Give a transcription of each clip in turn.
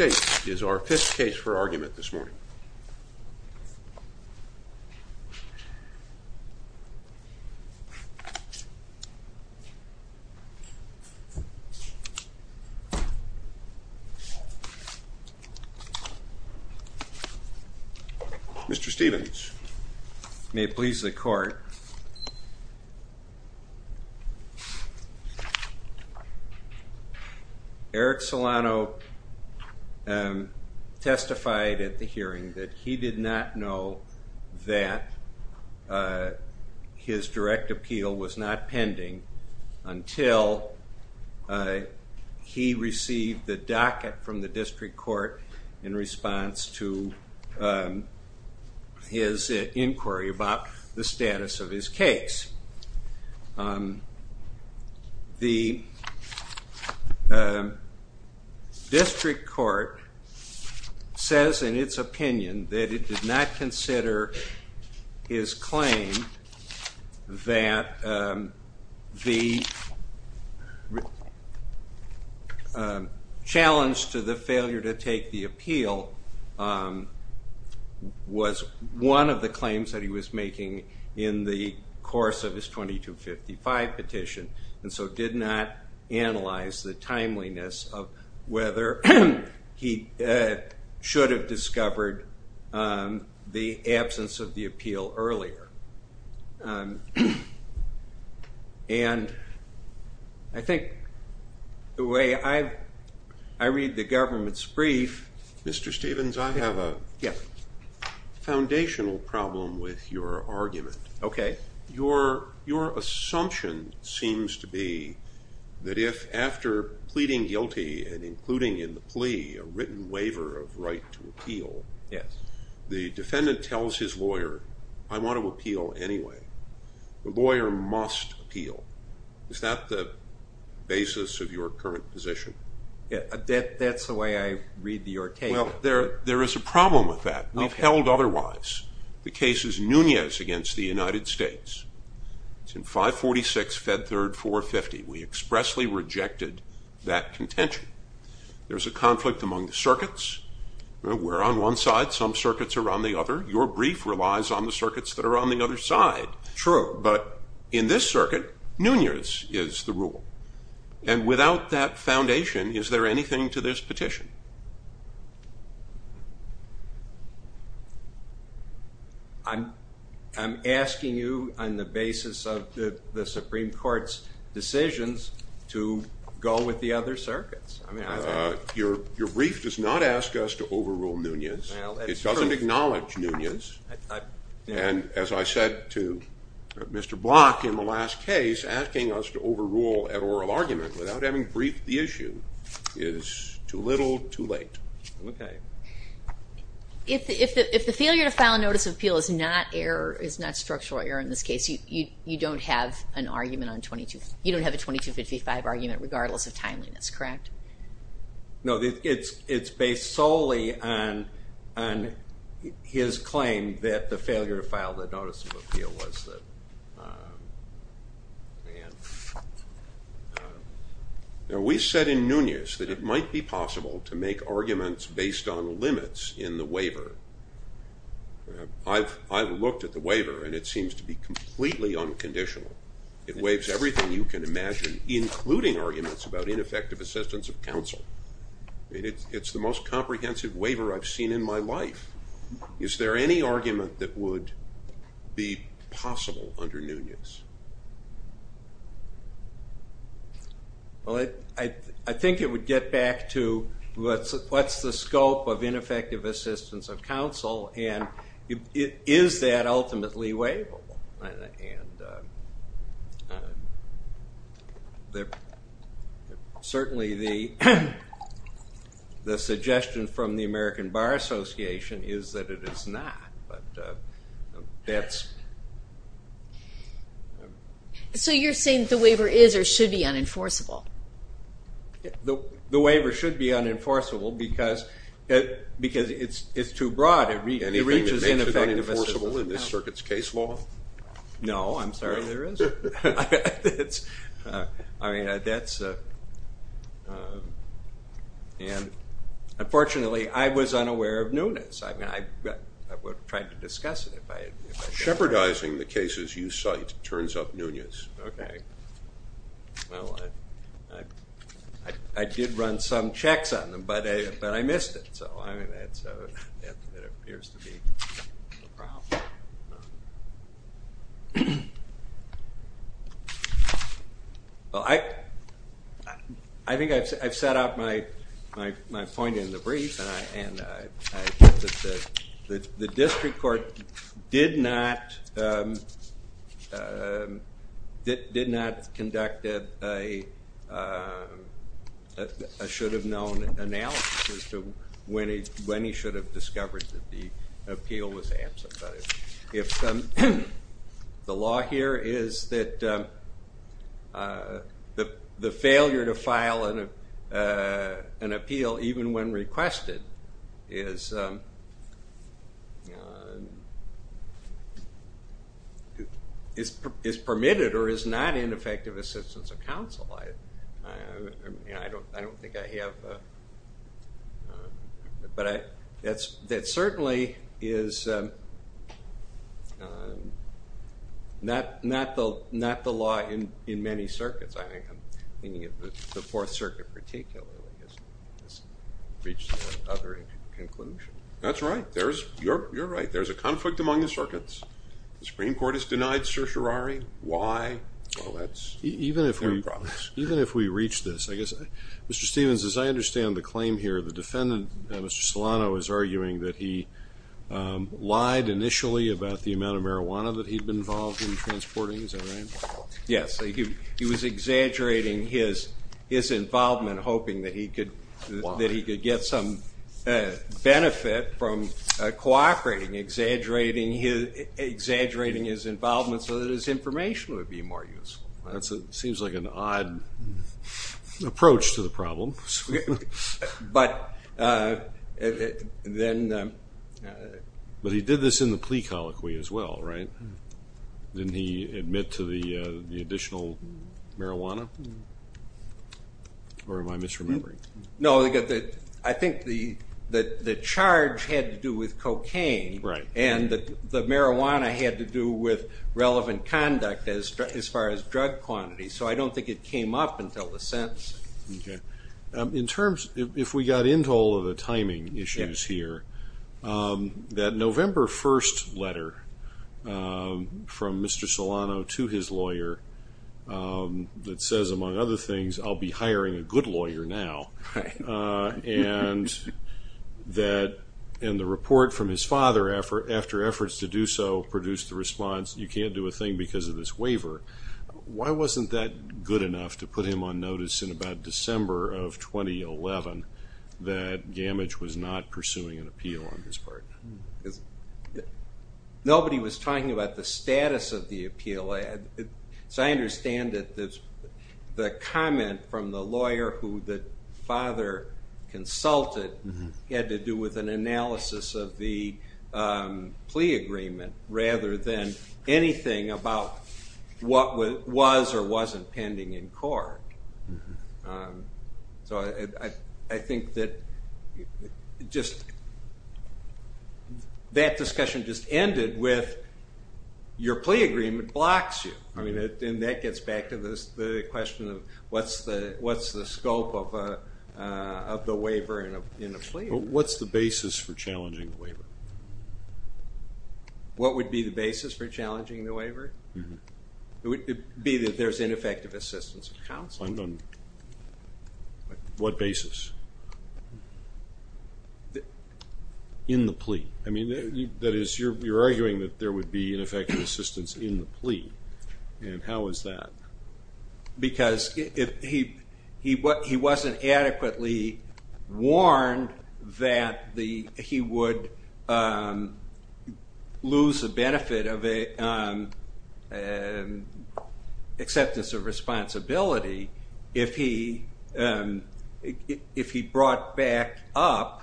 is our fifth case for argument this morning. Mr. Stephens. May it please the court, Eric Solano testified at the hearing that he did not know that his direct appeal was not pending until he received the docket from the district court in response to his inquiry about the status of his case. The district court says in its opinion that it did not consider his claim that the challenge to the failure to take the appeal was one of the claims that he was making in the course of his 2255 petition and so did not analyze the timeliness of whether he should have discovered the absence of the appeal earlier and I think the way I read the government's brief, Mr. Stephens, I have a foundational problem with your argument. Your assumption seems to be that if after pleading guilty and including in the plea a written waiver of right to appeal, the defendant tells his lawyer, I want to appeal anyway, the lawyer must appeal. Is that the basis of your current position? That's the way I read your case. There is a problem with that. We've held otherwise. The case is Nunez against the United States. It's in 546 Fed Third 450. We expressly rejected that contention. There's a conflict among the circuits. We're on one side. Some circuits are on the other. Your brief relies on the circuits that are on the other side. True. But in this circuit, Nunez is the rule. And without that foundation, is there anything to this petition? I'm asking you on the basis of the Supreme Court's decisions to go with the other circuits. Your brief does not ask us to overrule Nunez. It doesn't acknowledge Nunez. And as I said to Mr. Block in the last case, asking us to overrule an oral argument without having briefed the issue is too little, too late. If the failure to file a notice of appeal is not structural error in this case, you don't have an argument on 2255, you don't have a 2255 argument, regardless of timeliness, correct? No, it's based solely on his claim that the failure to file the notice of appeal was the man. We said in Nunez that it might be possible to make arguments based on limits in the waiver. I've looked at the waiver, and it seems to be completely unconditional. It waives everything you can imagine, including arguments about ineffective assistance of counsel. It's the most comprehensive waiver I've seen in my life. Is there any argument that would be possible under Nunez? Well, I think it would get back to what's the scope of ineffective assistance of counsel, and is that ultimately waivable? And certainly the suggestion from the American Bar Association is that it is not, but that's... So you're saying that the waiver is or should be unenforceable? The waiver should be unenforceable because it's too broad. Anything that makes it unenforceable in this circuit's case law? No, I'm sorry, there isn't. I mean, that's... And unfortunately, I was unaware of Nunez. I mean, I would have tried to discuss it if I... Shepherdizing the cases you cite turns up Nunez. Okay. Well, I did run some checks on them, but I missed it. So, I mean, that appears to be the problem. Well, I think I've set out my point in the brief, and I think that the district court did not conduct a should-have-known analysis as to when he should have discovered that the appeal was absent, but if the law here is that the failure to file an appeal even when requested is permitted or is not in effective assistance of counsel, I don't think I have... But that certainly is not the law in many circuits. I think I'm thinking of the Fourth Circuit particularly has reached that other conclusion. That's right. You're right. There's a conflict among the circuits. The Supreme Court has denied certiorari. Why? Well, that's... Even if we reach this, I guess, Mr. Stevens, as I understand the claim here, the defendant, Mr. Solano, is arguing that he lied initially about the amount of marijuana that he'd been involved in transporting. Is that right? Yes. He was exaggerating his involvement, hoping that he could get some benefit from cooperating, exaggerating his involvement so that his information would be more useful. That seems like an odd approach to the problem. But then... But he did this in the plea colloquy as well, right? Didn't he admit to the additional marijuana? Or am I misremembering? No, I think the charge had to do with cocaine and the marijuana had to do with relevant conduct as far as drug quantity. So I don't think it came up until the sentence. Okay. In terms... If we got into all of the timing issues here, that November 1st letter from Mr. Solano to his lawyer that says, among other things, I'll be hiring a good lawyer now, and the report from his father after efforts to do so produced the response, you can't do a thing because of this waiver. Why wasn't that good enough to put him on notice in about December of 2011 that Gammage was not pursuing an appeal on his part? Nobody was talking about the status of the appeal. So I understand that the comment from the lawyer who the father consulted had to do with an analysis of the plea agreement rather than anything about what was or wasn't pending in court. So I think that just... That discussion just ended with, your plea agreement blocks you. I mean, and that gets back to the question of what's the scope of the waiver in a plea? What's the basis for challenging the waiver? What would be the basis for challenging the waiver? It would be that there's ineffective assistance of counsel. What basis? In the plea. I mean, that is, you're arguing that there would be ineffective assistance in the plea, and how is that? Because if he wasn't adequately warned that he would lose the benefit of acceptance of responsibility if he brought back up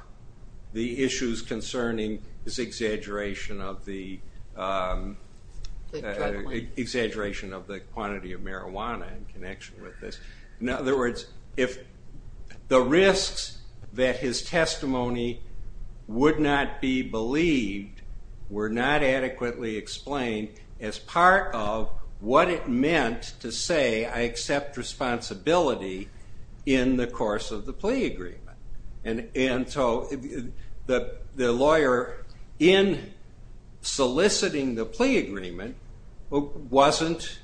the issues concerning his exaggeration of the quantity of marijuana in connection with this. In other words, if the risks that his testimony would not be believed were not adequately explained as part of what it meant to say, I accept responsibility in the course of the plea agreement. And so the lawyer, in soliciting the plea agreement, wasn't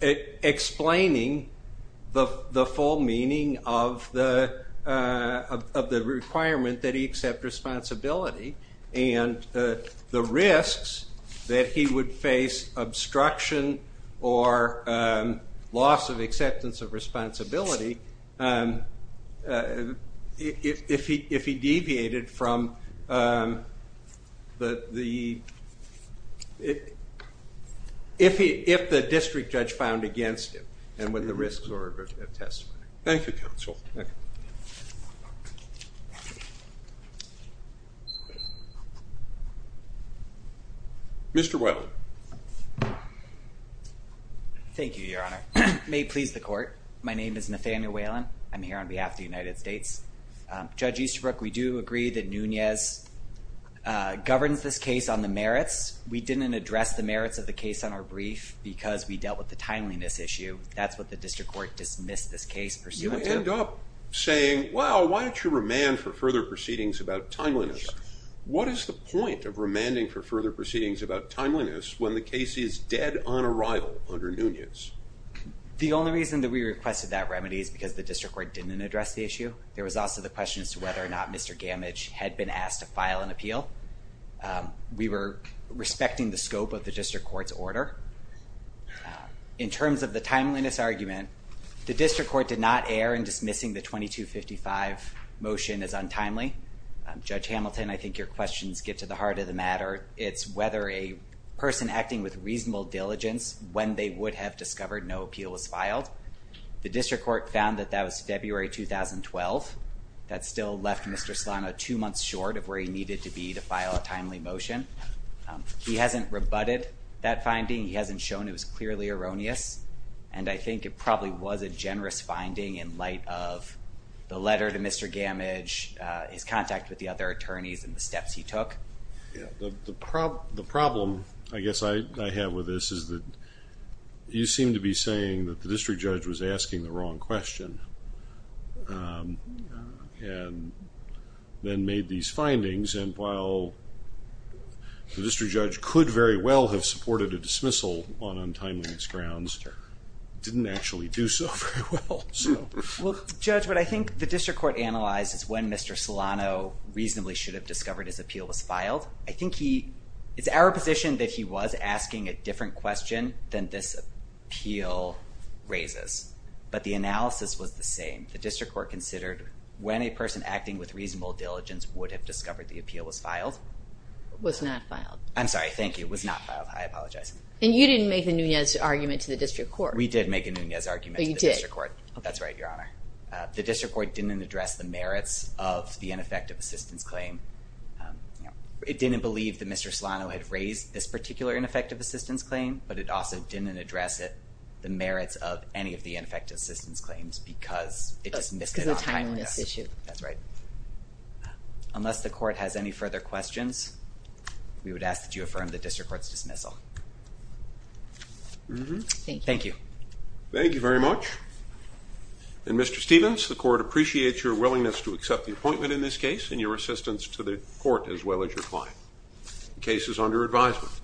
explaining the full meaning of the requirement that he accept responsibility, and the risks that he would face obstruction or loss of acceptance of responsibility if he deviated from the, if the district judge found against him, and when the risks were attested. Thank you, counsel. Mr. Whelan. Thank you, Your Honor. May it please the court. My name is Nathaniel Whelan. I'm here on behalf of the United States. Judge Easterbrook, we do agree that Nunez governs this case on the merits. We didn't address the merits of the case on our brief because we dealt with the timeliness That's what the district court dismissed this case pursuant to. You end up saying, well, why don't you remand for further proceedings about timeliness? Sure. What is the point of remanding for further proceedings about timeliness? When the case is dead on arrival under Nunez? The only reason that we requested that remedy is because the district court didn't address the issue. There was also the question as to whether or not Mr. Gammage had been asked to file an appeal. We were respecting the scope of the district court's order. In terms of the timeliness argument, the district court did not err in dismissing the 2255 motion as untimely. Judge Hamilton, I think your questions get to the heart of the matter. It's whether a person acting with reasonable diligence, when they would have discovered no appeal was filed. The district court found that that was February 2012. That still left Mr. Solano two months short of where he needed to be to file a timely motion. He hasn't rebutted that finding. He hasn't shown it was clearly erroneous. And I think it probably was a generous finding in light of the letter to Mr. Gammage, his The problem, I guess, I have with this is that you seem to be saying that the district judge was asking the wrong question and then made these findings. And while the district judge could very well have supported a dismissal on untimeliness grounds, he didn't actually do so very well. Well, Judge, what I think the district court analyzed is when Mr. Solano reasonably should have discovered his appeal was filed. I think he, it's our position that he was asking a different question than this appeal raises. But the analysis was the same. The district court considered when a person acting with reasonable diligence would have discovered the appeal was filed. Was not filed. I'm sorry. Thank you. It was not filed. I apologize. And you didn't make a Nunez argument to the district court. We did make a Nunez argument to the district court. But you did. That's right, Your Honor. The district court didn't address the merits of the ineffective assistance claim. It didn't believe that Mr. Solano had raised this particular ineffective assistance claim, but it also didn't address it, the merits of any of the ineffective assistance claims because it dismissed it on untimeliness. Because of the timeliness issue. That's right. Unless the court has any further questions, we would ask that you affirm the district court's dismissal. Thank you. Thank you. Thank you very much. And Mr. Stevens, the court appreciates your willingness to accept the appointment in this case to the court as well as your client. The case is under advisement.